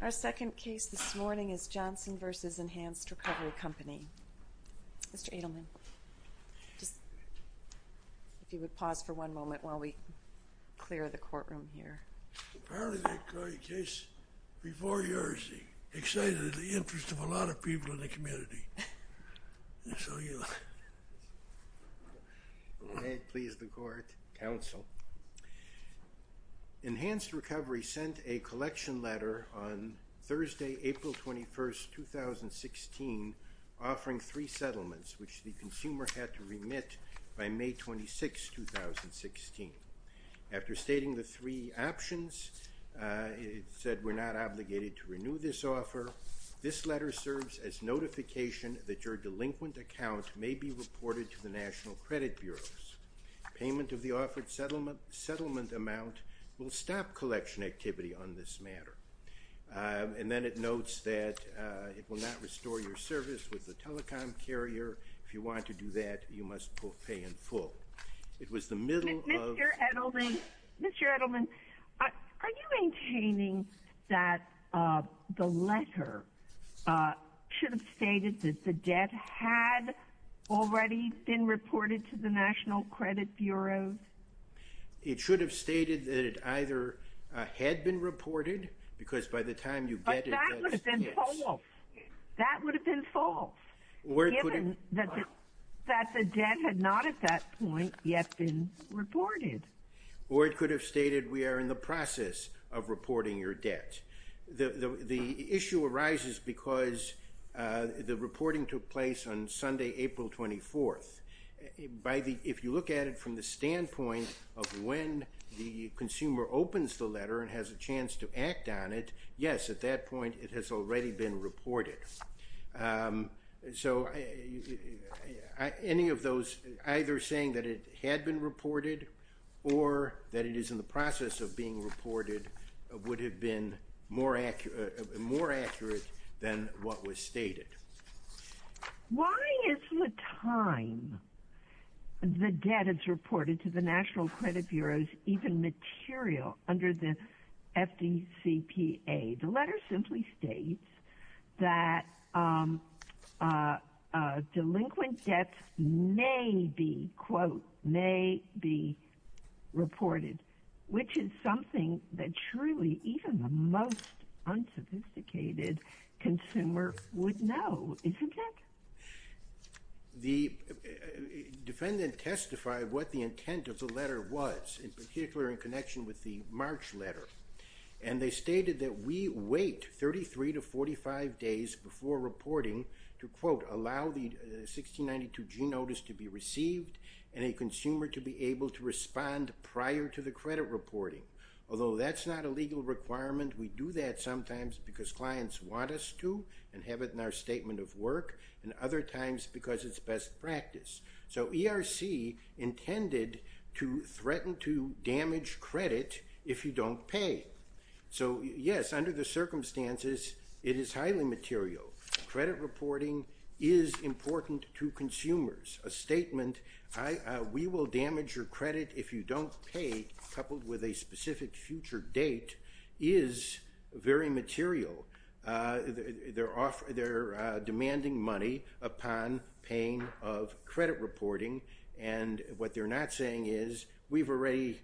Our second case this morning is Johnson v. Enhanced Recovery Company. Mr. Adelman, if you would pause for one moment while we clear the courtroom here. Apparently that case before yours excited the interest of a lot of people in the community. May it please the court. Counsel. Enhanced Recovery sent a collection letter on Thursday, April 21, 2016, offering three settlements, which the consumer had to remit by May 26, 2016. After stating the three options, it said we're not obligated to renew this offer. This letter serves as notification that your delinquent account may be reported to the National Credit Bureau. Payment of the offered settlement amount will stop collection activity on this matter. And then it notes that it will not restore your service with the telecom carrier. If you want to do that, you must pay in full. Mr. Adelman, are you maintaining that the letter should have stated that the debt had already been reported to the National Credit Bureau? It should have stated that it either had been reported, because by the time you get it, yes. That would have been false, given that the debt had not at that point yet been reported. Or it could have stated we are in the process of reporting your debt. The issue arises because the reporting took place on Sunday, April 24. If you look at it from the standpoint of when the consumer opens the letter and has a chance to act on it, yes, at that point it has already been reported. So any of those, either saying that it had been reported or that it is in the process of being reported, would have been more accurate than what was stated. Why is the time the debt is reported to the National Credit Bureau's even material under the FDCPA? The letter simply states that delinquent debts may be, quote, may be reported, which is something that truly even the most unsophisticated consumer would know, isn't it? The defendant testified what the intent of the letter was, in particular in connection with the March letter. And they stated that we wait 33 to 45 days before reporting to, quote, to allow the 1692G notice to be received and a consumer to be able to respond prior to the credit reporting. Although that's not a legal requirement. We do that sometimes because clients want us to and have it in our statement of work, and other times because it's best practice. So ERC intended to threaten to damage credit if you don't pay. So, yes, under the circumstances it is highly material. Credit reporting is important to consumers. A statement, we will damage your credit if you don't pay, coupled with a specific future date, is very material. They're demanding money upon paying of credit reporting, and what they're not saying is we've already,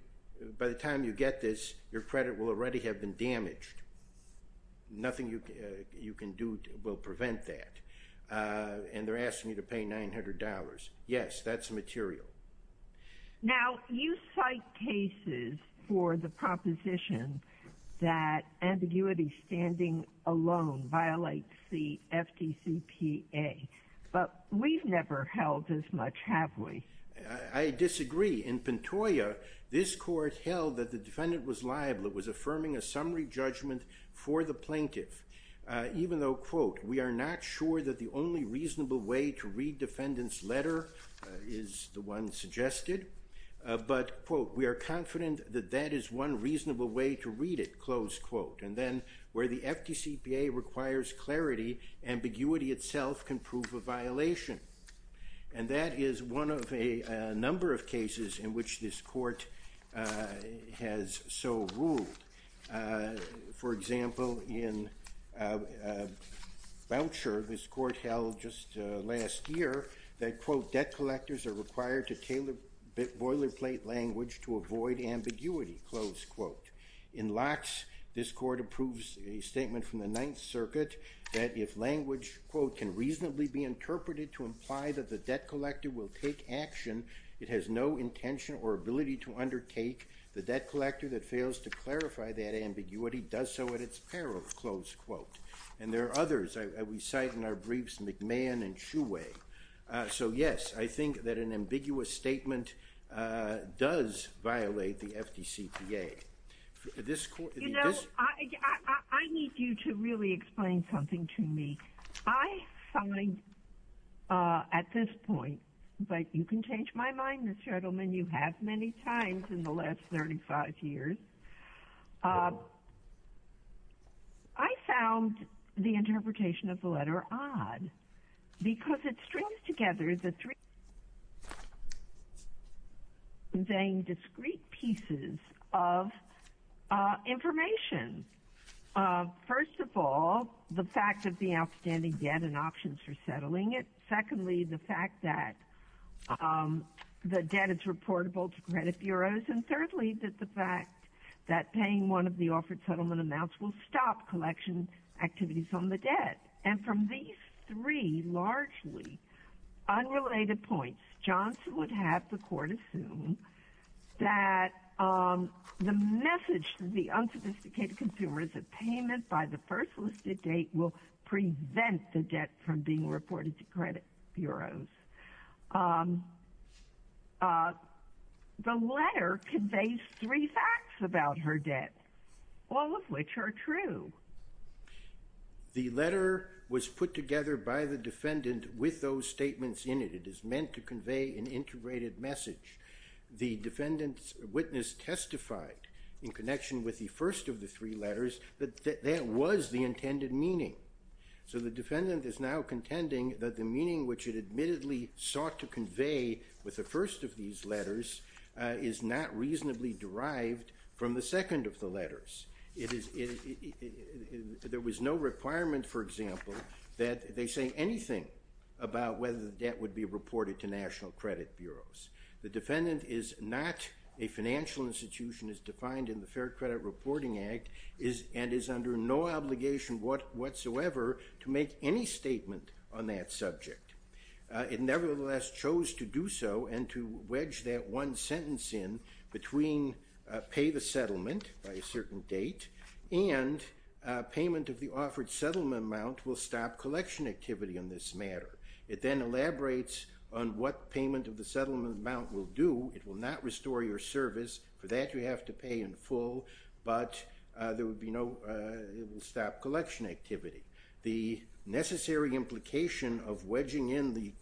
by the time you get this, your credit will already have been damaged. Nothing you can do will prevent that. And they're asking you to pay $900. Yes, that's material. Now, you cite cases for the proposition that ambiguity standing alone violates the FDCPA, but we've never held as much, have we? I disagree. In Pantoya, this court held that the defendant was liable. It was affirming a summary judgment for the plaintiff, even though, quote, we are not sure that the only reasonable way to read defendant's letter is the one suggested, but, quote, we are confident that that is one reasonable way to read it, close quote. And then where the FDCPA requires clarity, ambiguity itself can prove a violation. And that is one of a number of cases in which this court has so ruled. For example, in Voucher, this court held just last year that, quote, debt collectors are required to tailor boilerplate language to avoid ambiguity, close quote. In Locke's, this court approves a statement from the Ninth Circuit that if language, quote, can reasonably be interpreted to imply that the debt collector will take action, it has no intention or ability to undertake. The debt collector that fails to clarify that ambiguity does so at its peril, close quote. And there are others we cite in our briefs, McMahon and Shoeway. So, yes, I think that an ambiguous statement does violate the FDCPA. You know, I need you to really explain something to me. I find at this point, but you can change my mind, Mr. Edelman, you have many times in the last 35 years. I found the interpretation of the letter odd because it strings together the three main discrete pieces of information. First of all, the fact that the outstanding debt and options for settling it. Secondly, the fact that the debt is reportable to credit bureaus. And thirdly, that the fact that paying one of the offered settlement amounts will stop collection activities on the debt. And from these three largely unrelated points, Johnson would have the court assume that the message to the unsophisticated consumer is that payment by the first listed date will prevent the debt from being reported to credit bureaus. The letter conveys three facts about her debt, all of which are true. The letter was put together by the defendant with those statements in it. It is meant to convey an integrated message. The defendant's witness testified in connection with the first of the three letters that that was the intended meaning. So the defendant is now contending that the meaning which it admittedly sought to convey with the first of these letters is not reasonably derived from the second of the letters. There was no requirement, for example, that they say anything about whether the debt would be reported to national credit bureaus. The defendant is not a financial institution as defined in the Fair Credit Reporting Act and is under no obligation whatsoever to make any statement on that subject. It nevertheless chose to do so and to wedge that one sentence in between pay the settlement by a certain date and payment of the offered settlement amount will stop collection activity on this matter. It then elaborates on what payment of the settlement amount will do. It will not restore your service. For that, you have to pay in full, but it will stop collection activity. The necessary implication of wedging in the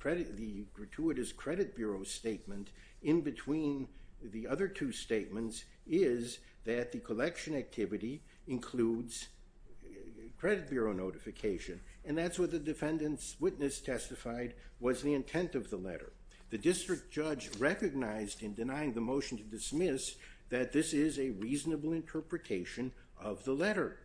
gratuitous credit bureau statement in between the other two statements is that the collection activity includes credit bureau notification, and that's what the defendant's witness testified was the intent of the letter. The district judge recognized in denying the motion to dismiss that this is a reasonable interpretation of the letter.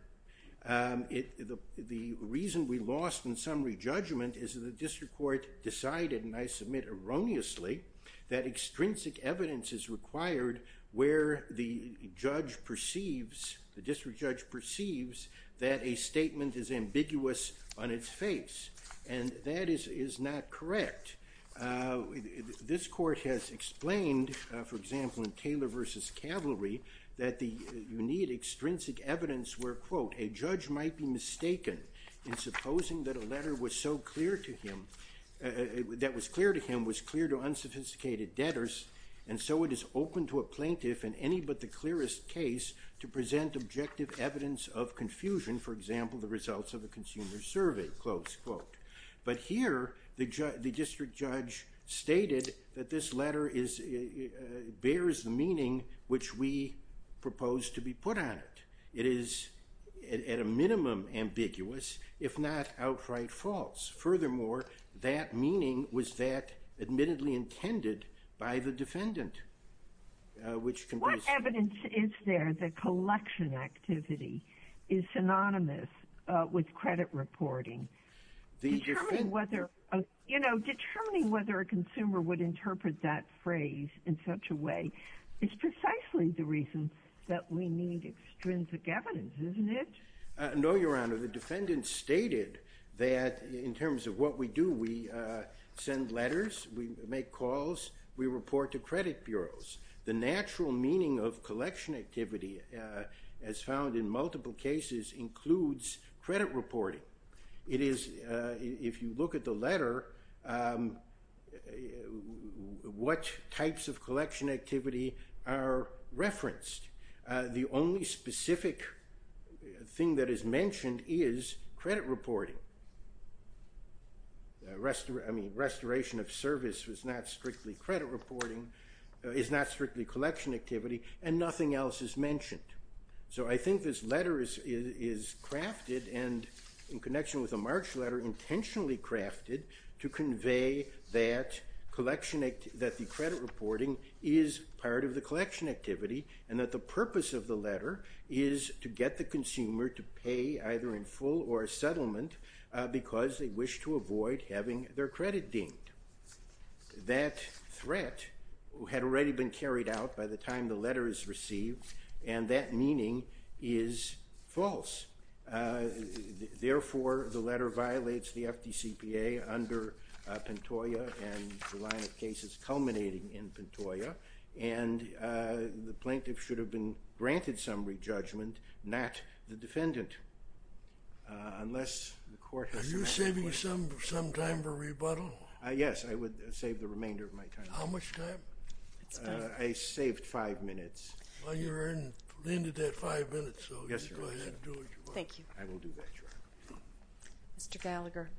The reason we lost in summary judgment is that the district court decided, and I submit erroneously, that extrinsic evidence is required where the district judge perceives that a statement is ambiguous on its face, and that is not correct. This court has explained, for example, in Taylor v. Cavalry, that you need extrinsic evidence where, quote, a judge might be mistaken in supposing that a letter that was clear to him was clear to unsophisticated debtors, and so it is open to a plaintiff in any but the clearest case to present objective evidence of confusion, for example, the results of a consumer survey, close quote. But here the district judge stated that this letter bears the meaning which we propose to be put on it. It is, at a minimum, ambiguous, if not outright false. Furthermore, that meaning was that admittedly intended by the defendant. What evidence is there that collection activity is synonymous with credit reporting? Determining whether a consumer would interpret that phrase in such a way is precisely the reason that we need extrinsic evidence, isn't it? No, Your Honor. The defendant stated that in terms of what we do, we send letters, we make calls, we report to credit bureaus. The natural meaning of collection activity, as found in multiple cases, includes credit reporting. It is, if you look at the letter, what types of collection activity are referenced. The only specific thing that is mentioned is credit reporting. Restoration of service is not strictly collection activity, and nothing else is mentioned. So I think this letter is crafted, and in connection with the March letter, crafted to convey that the credit reporting is part of the collection activity, and that the purpose of the letter is to get the consumer to pay either in full or a settlement, because they wish to avoid having their credit dinged. That threat had already been carried out by the time the letter is received, and that meaning is false. Therefore, the letter violates the FDCPA under Pantoja and the line of cases culminating in Pantoja, and the plaintiff should have been granted some re-judgment, not the defendant, unless the court has to act. Are you saving some time for rebuttal? Yes, I would save the remainder of my time. How much time? I saved five minutes. Well, you're in the end of that five minutes, so you can go ahead and do what you want. Thank you. I will do that, Your Honor. Mr. Gallagher.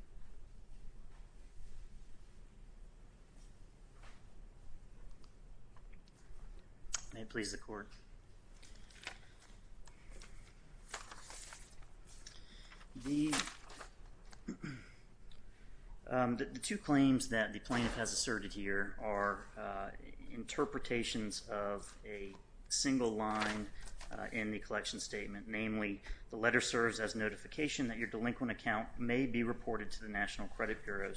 May it please the Court. The two claims that the plaintiff has asserted here are interpretations of a single line in the collection statement, namely the letter serves as notification that your delinquent account may be reported to the National Credit Bureau.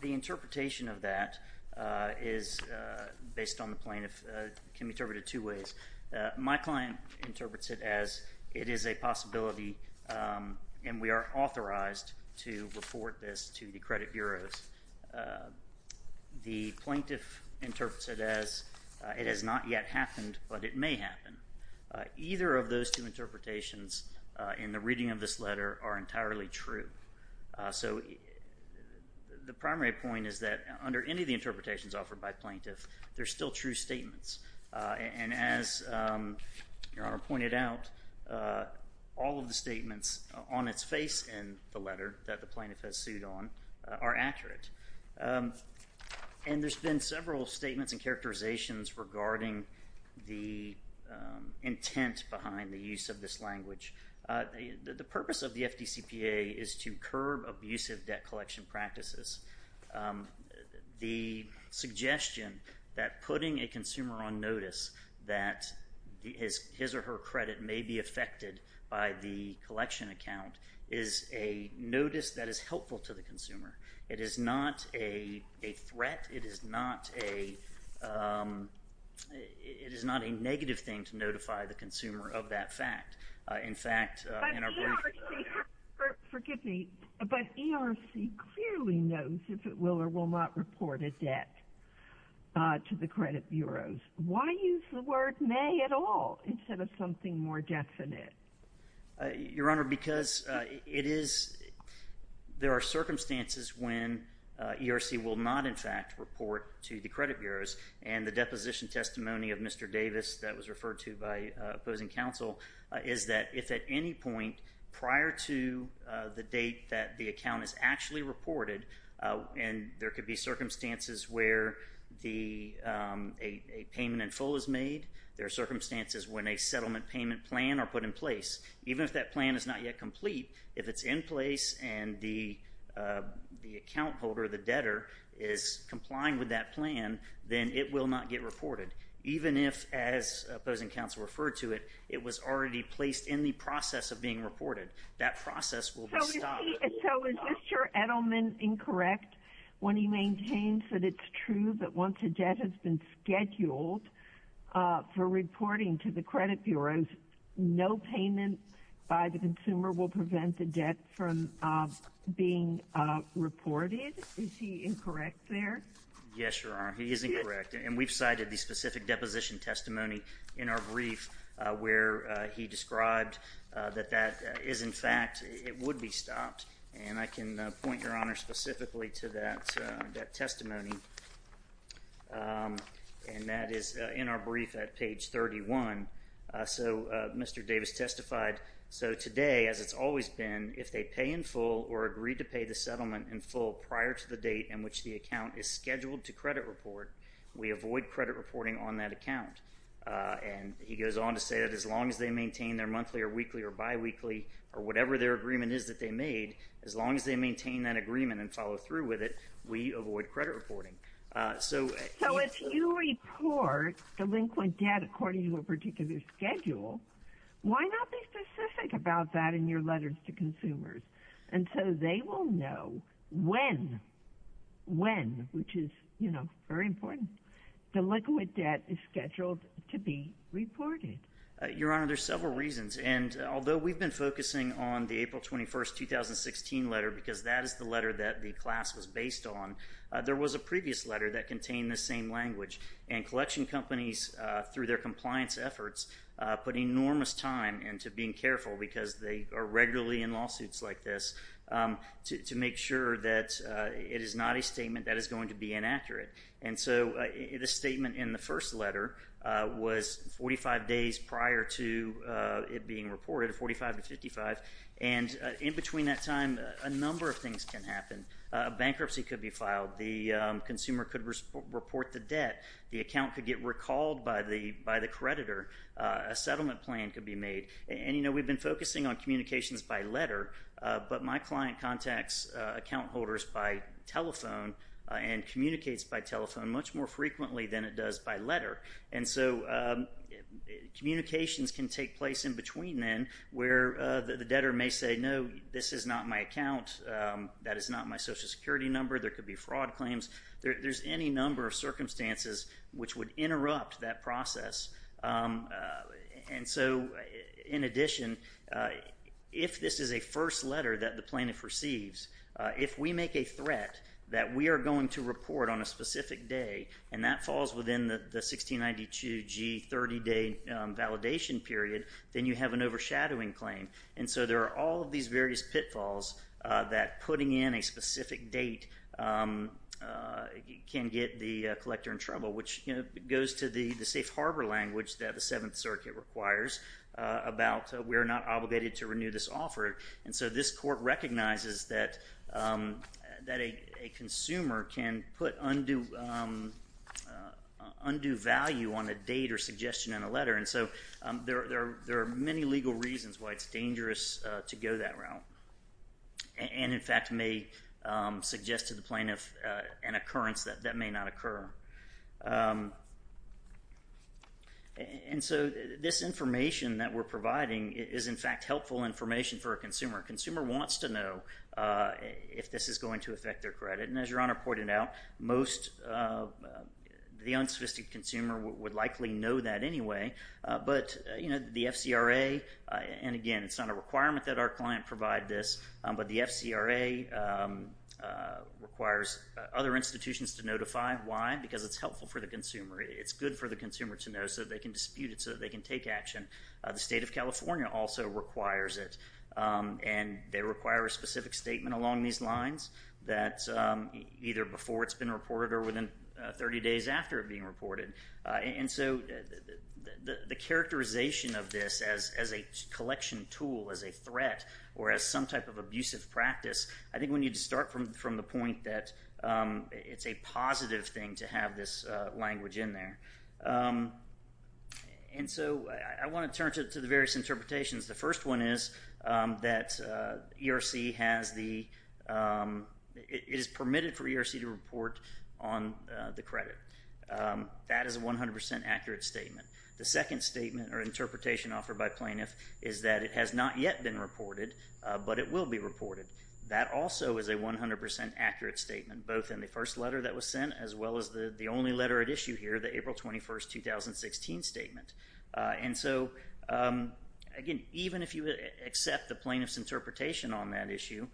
The interpretation of that is, based on the plaintiff, can be interpreted two ways. My client interprets it as it is a possibility, and we are authorized to report this to the credit bureaus. The plaintiff interprets it as it has not yet happened, but it may happen. Either of those two interpretations in the reading of this letter are entirely true. So the primary point is that under any of the interpretations offered by plaintiffs, there are still true statements. And as Your Honor pointed out, all of the statements on its face in the letter that the plaintiff has sued on are accurate. And there's been several statements and characterizations regarding the intent behind the use of this language. The purpose of the FDCPA is to curb abusive debt collection practices. The suggestion that putting a consumer on notice that his or her credit may be affected by the collection account is a notice that is helpful to the consumer. It is not a threat. It is not a negative thing to notify the consumer of that fact. In fact, in our brief… But ERC, forgive me, but ERC clearly knows if it will or will not report a debt to the credit bureaus. Why use the word may at all instead of something more definite? Your Honor, because there are circumstances when ERC will not, in fact, report to the credit bureaus. And the deposition testimony of Mr. Davis that was referred to by opposing counsel is that if at any point prior to the date that the account is actually reported, and there could be circumstances where a payment in full is made, there are circumstances when a settlement payment plan are put in place, even if that plan is not yet complete, if it's in place and the account holder, the debtor, is complying with that plan, then it will not get reported. Even if, as opposing counsel referred to it, it was already placed in the process of being reported, that process will be stopped. So is Mr. Edelman incorrect when he maintains that it's true that once a debt has been scheduled for reporting to the credit bureaus, no payment by the consumer will prevent the debt from being reported? Is he incorrect there? Yes, Your Honor, he is incorrect. And we've cited the specific deposition testimony in our brief where he described that that is, in fact, it would be stopped. And I can point, Your Honor, specifically to that testimony. And that is in our brief at page 31. So Mr. Davis testified, so today, as it's always been, if they pay in full or agree to pay the settlement in full prior to the date in which the account is scheduled to credit report, we avoid credit reporting on that account. And he goes on to say that as long as they maintain their monthly or weekly or biweekly or whatever their agreement is that they made, as long as they maintain that agreement and follow through with it, we avoid credit reporting. So if you report delinquent debt according to a particular schedule, why not be specific about that in your letters to consumers? And so they will know when, when, which is, you know, very important, delinquent debt is scheduled to be reported. Your Honor, there's several reasons. And although we've been focusing on the April 21, 2016 letter because that is the letter that the class was based on, there was a previous letter that contained the same language. And collection companies, through their compliance efforts, put enormous time into being careful, because they are regularly in lawsuits like this, to make sure that it is not a statement that is going to be inaccurate. And so the statement in the first letter was 45 days prior to it being reported, 45 to 55. And in between that time, a number of things can happen. A bankruptcy could be filed. The consumer could report the debt. The account could get recalled by the creditor. A settlement plan could be made. And, you know, we've been focusing on communications by letter, but my client contacts account holders by telephone and communicates by telephone much more frequently than it does by letter. And so communications can take place in between then, where the debtor may say, no, this is not my account. That is not my Social Security number. There could be fraud claims. There's any number of circumstances which would interrupt that process. And so, in addition, if this is a first letter that the plaintiff receives, if we make a threat that we are going to report on a specific day and that falls within the 1692G 30-day validation period, then you have an overshadowing claim. And so there are all of these various pitfalls that putting in a specific date can get the collector in trouble, which goes to the safe harbor language that the Seventh Circuit requires about we're not obligated to renew this offer. And so this court recognizes that a consumer can put undue value on a date or suggestion in a letter. And so there are many legal reasons why it's dangerous to go that route and, in fact, may suggest to the plaintiff an occurrence that may not occur. And so this information that we're providing is, in fact, helpful information for a consumer. A consumer wants to know if this is going to affect their credit. And as Your Honor pointed out, most of the unsophisticated consumer would likely know that anyway. But, you know, the FCRA, and again, it's not a requirement that our client provide this, but the FCRA requires other institutions to notify. Why? Because it's helpful for the consumer. It's good for the consumer to know so that they can dispute it, so that they can take action. The State of California also requires it, and they require a specific statement along these lines that's either before it's been reported or within 30 days after it being reported. And so the characterization of this as a collection tool, as a threat, or as some type of abusive practice, I think we need to start from the point that it's a positive thing to have this language in there. And so I want to turn to the various interpretations. The first one is that it is permitted for ERC to report on the credit. That is a 100% accurate statement. The second statement or interpretation offered by plaintiff is that it has not yet been reported, but it will be reported. That also is a 100% accurate statement, both in the first letter that was sent as well as the only letter at issue here, the April 21, 2016 statement. And so, again, even if you accept the plaintiff's interpretation on that issue,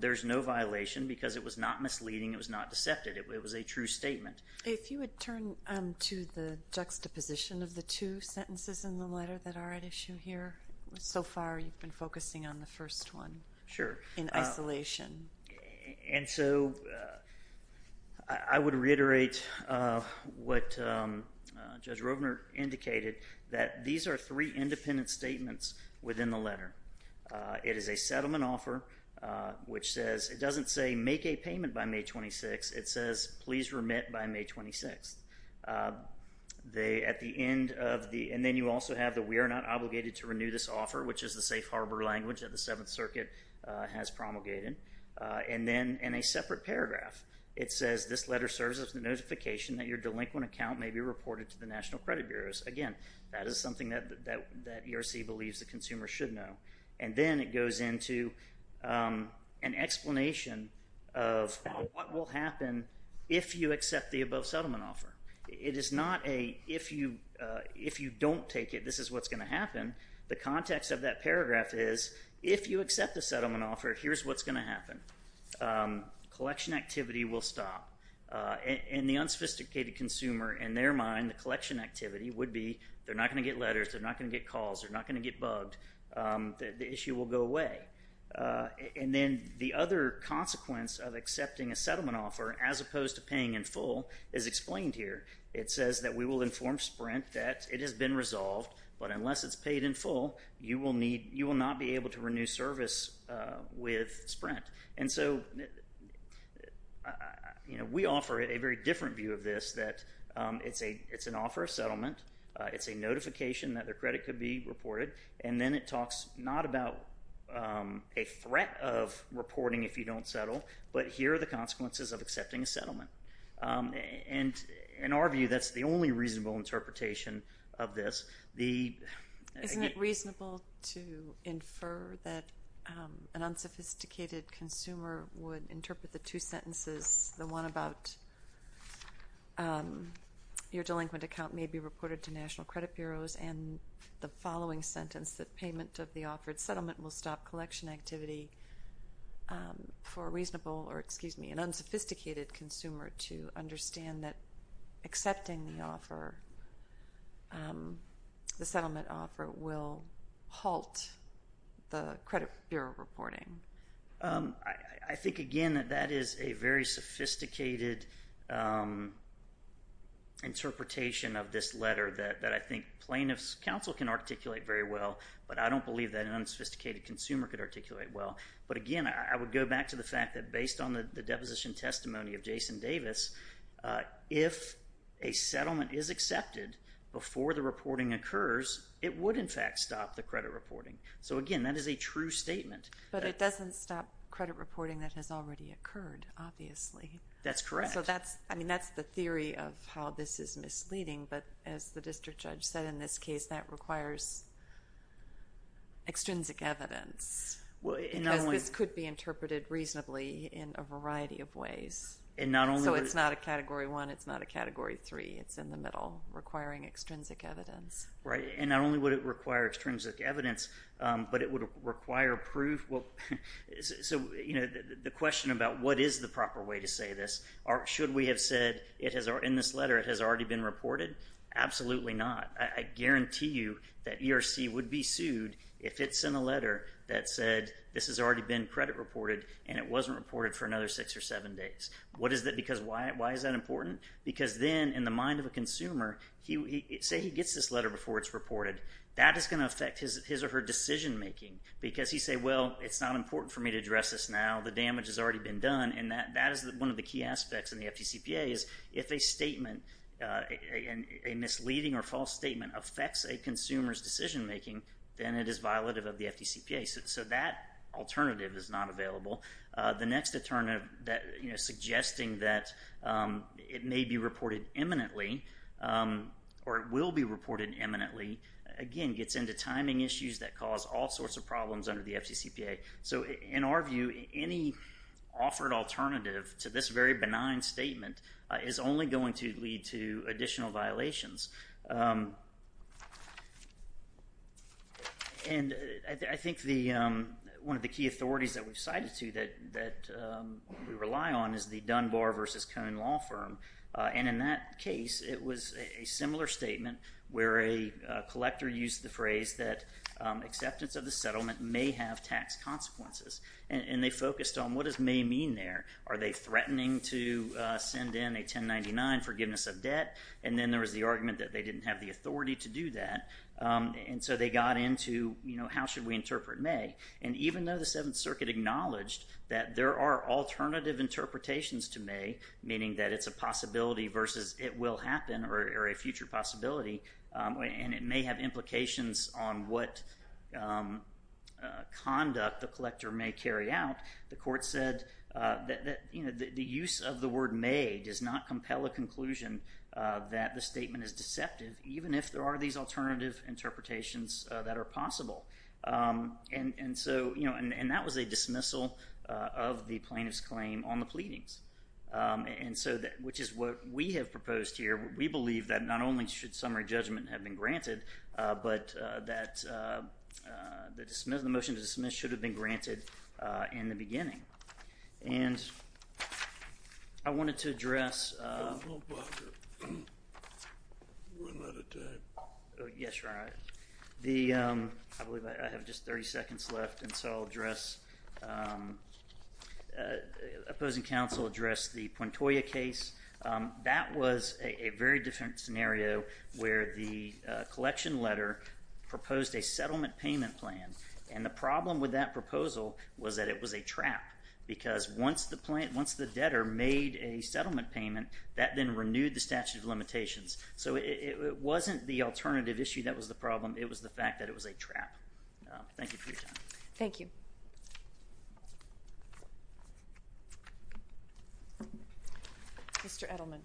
there's no violation because it was not misleading. It was not deceptive. It was a true statement. If you would turn to the juxtaposition of the two sentences in the letter that are at issue here, so far you've been focusing on the first one in isolation. And so I would reiterate what Judge Rovner indicated, that these are three independent statements within the letter. It is a settlement offer, which says it doesn't say make a payment by May 26th. It says please remit by May 26th. And then you also have the we are not obligated to renew this offer, which is the safe harbor language that the Seventh Circuit has promulgated. And then in a separate paragraph, it says this letter serves as a notification that your delinquent account may be reported to the National Credit Bureau. Again, that is something that ERC believes the consumer should know. And then it goes into an explanation of what will happen if you accept the above settlement offer. It is not a if you don't take it, this is what's going to happen. The context of that paragraph is if you accept the settlement offer, here's what's going to happen. Collection activity will stop. In the unsophisticated consumer, in their mind, the collection activity would be they're not going to get letters, they're not going to get calls, they're not going to get bugged. The issue will go away. And then the other consequence of accepting a settlement offer as opposed to paying in full is explained here. It says that we will inform Sprint that it has been resolved, but unless it's paid in full, you will not be able to renew service with Sprint. And so we offer a very different view of this, that it's an offer of settlement, it's a notification that their credit could be reported, and then it talks not about a threat of reporting if you don't settle, but here are the consequences of accepting a settlement. And in our view, that's the only reasonable interpretation of this. Isn't it reasonable to infer that an unsophisticated consumer would interpret the two sentences, the one about your delinquent account may be reported to national credit bureaus, and the following sentence, that payment of the offered settlement will stop collection activity, for an unsophisticated consumer to understand that accepting the offer, the settlement offer, will halt the credit bureau reporting? I think, again, that that is a very sophisticated interpretation of this letter that I think plaintiffs' counsel can articulate very well, but I don't believe that an unsophisticated consumer could articulate well. But, again, I would go back to the fact that based on the deposition testimony of Jason Davis, if a settlement is accepted before the reporting occurs, it would, in fact, stop the credit reporting. So, again, that is a true statement. But it doesn't stop credit reporting that has already occurred, obviously. That's correct. So that's the theory of how this is misleading, but as the district judge said, in this case, that requires extrinsic evidence. Because this could be interpreted reasonably in a variety of ways. So it's not a Category 1. It's not a Category 3. It's in the middle, requiring extrinsic evidence. Right, and not only would it require extrinsic evidence, but it would require proof. So the question about what is the proper way to say this, or should we have said in this letter it has already been reported? Absolutely not. I guarantee you that ERC would be sued if it sent a letter that said this has already been credit reported and it wasn't reported for another six or seven days. Why is that important? Because then, in the mind of a consumer, say he gets this letter before it's reported. That is going to affect his or her decision making because he says, well, it's not important for me to address this now. The damage has already been done. And that is one of the key aspects in the FDCPA is if a statement, a misleading or false statement affects a consumer's decision making, then it is violative of the FDCPA. So that alternative is not available. The next alternative, suggesting that it may be reported imminently or it will be reported imminently, again, gets into timing issues that cause all sorts of problems under the FDCPA. So in our view, any offered alternative to this very benign statement is only going to lead to additional violations. And I think one of the key authorities that we've cited to that we rely on is the Dunbar v. Cohn law firm. And in that case, it was a similar statement where a collector used the phrase that acceptance of the settlement may have tax consequences. And they focused on what does may mean there. Are they threatening to send in a 1099 forgiveness of debt? And then there was the argument that they didn't have the authority to do that. And so they got into how should we interpret may. And even though the Seventh Circuit acknowledged that there are alternative interpretations to may, meaning that it's a possibility versus it will happen or a future possibility, and it may have implications on what conduct the collector may carry out, the court said that the use of the word may does not compel a conclusion that the statement is deceptive, even if there are these alternative interpretations that are possible. And that was a dismissal of the plaintiff's claim on the pleadings, which is what we have proposed here. We believe that not only should summary judgment have been granted, but that the motion to dismiss should have been granted in the beginning. And I wanted to address the opposing counsel addressed the Puntoya case. That was a very different scenario where the collection letter proposed a settlement payment plan. And the problem with that proposal was that it was a trap, because once the debtor made a settlement payment, that then renewed the statute of limitations. So it wasn't the alternative issue that was the problem. It was the fact that it was a trap. Thank you for your time. Thank you. Mr. Edelman.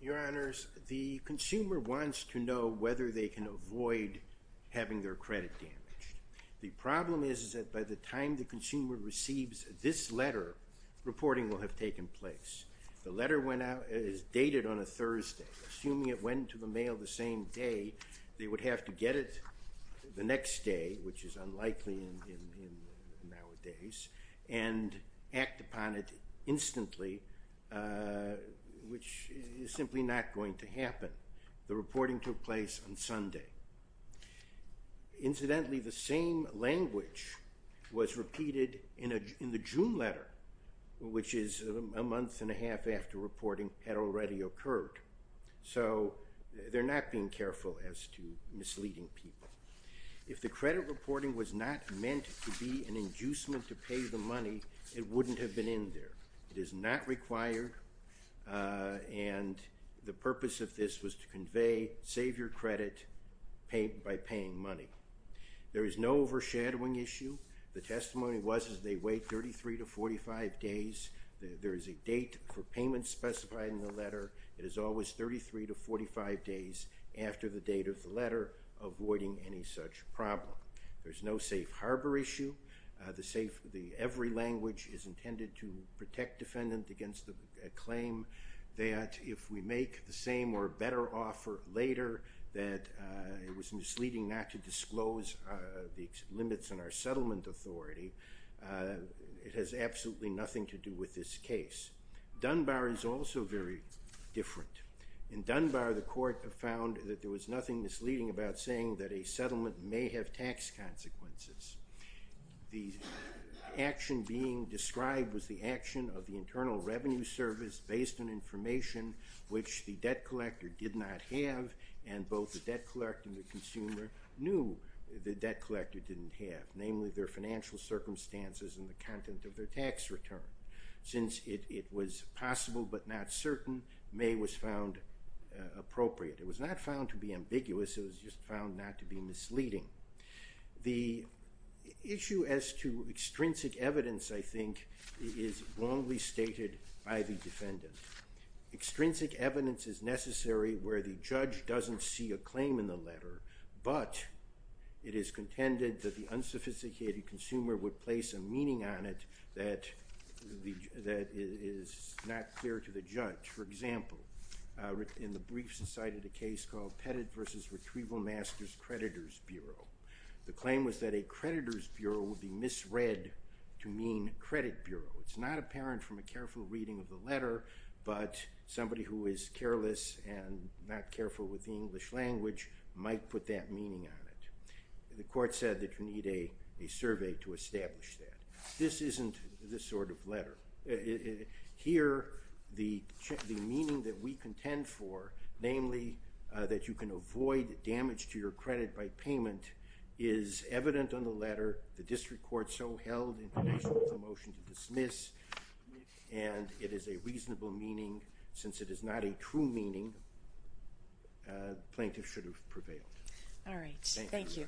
Your Honors, the consumer wants to know whether they can avoid having their credit damaged. The problem is that by the time the consumer receives this letter, reporting will have taken place. The letter is dated on a Thursday. Assuming it went to the mail the same day, they would have to get it the next day, which is unlikely nowadays, and act upon it instantly, which is simply not going to happen. The reporting took place on Sunday. Incidentally, the same language was repeated in the June letter, which is a month and a half after reporting had already occurred. So they're not being careful as to misleading people. If the credit reporting was not meant to be an inducement to pay the money, it wouldn't have been in there. It is not required, and the purpose of this was to convey save your credit by paying money. There is no overshadowing issue. The testimony was that they wait 33 to 45 days. There is a date for payment specified in the letter. It is always 33 to 45 days after the date of the letter, avoiding any such problem. There's no safe harbor issue. Every language is intended to protect defendant against a claim that if we make the same or better offer later, that it was misleading not to disclose the limits in our settlement authority. It has absolutely nothing to do with this case. Dunbar is also very different. In Dunbar, the court found that there was nothing misleading about saying that a settlement may have tax consequences. The action being described was the action of the Internal Revenue Service based on information which the debt collector did not have and both the debt collector and the consumer knew the debt collector didn't have, namely their financial circumstances and the content of their tax return. Since it was possible but not certain, may was found appropriate. It was not found to be ambiguous. It was just found not to be misleading. The issue as to extrinsic evidence, I think, is wrongly stated by the defendant. Extrinsic evidence is necessary where the judge doesn't see a claim in the letter, but it is contended that the unsophisticated consumer would place a meaning on it that is not clear to the judge. For example, in the briefs cited a case called Pettit v. Retrieval Masters Creditor's Bureau. The claim was that a creditor's bureau would be misread to mean credit bureau. It's not apparent from a careful reading of the letter, but somebody who is careless and not careful with the English language might put that meaning on it. The court said that you need a survey to establish that. This isn't the sort of letter. Here, the meaning that we contend for, namely that you can avoid damage to your credit by payment, is evident on the letter. The district court so held in connection with the motion to dismiss, and it is a reasonable meaning. Since it is not a true meaning, the plaintiff should have prevailed. All right. Thank you.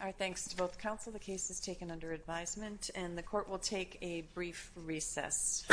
Our thanks to both counsel. The case is taken under advisement, and the court will take a brief recess. Thank you.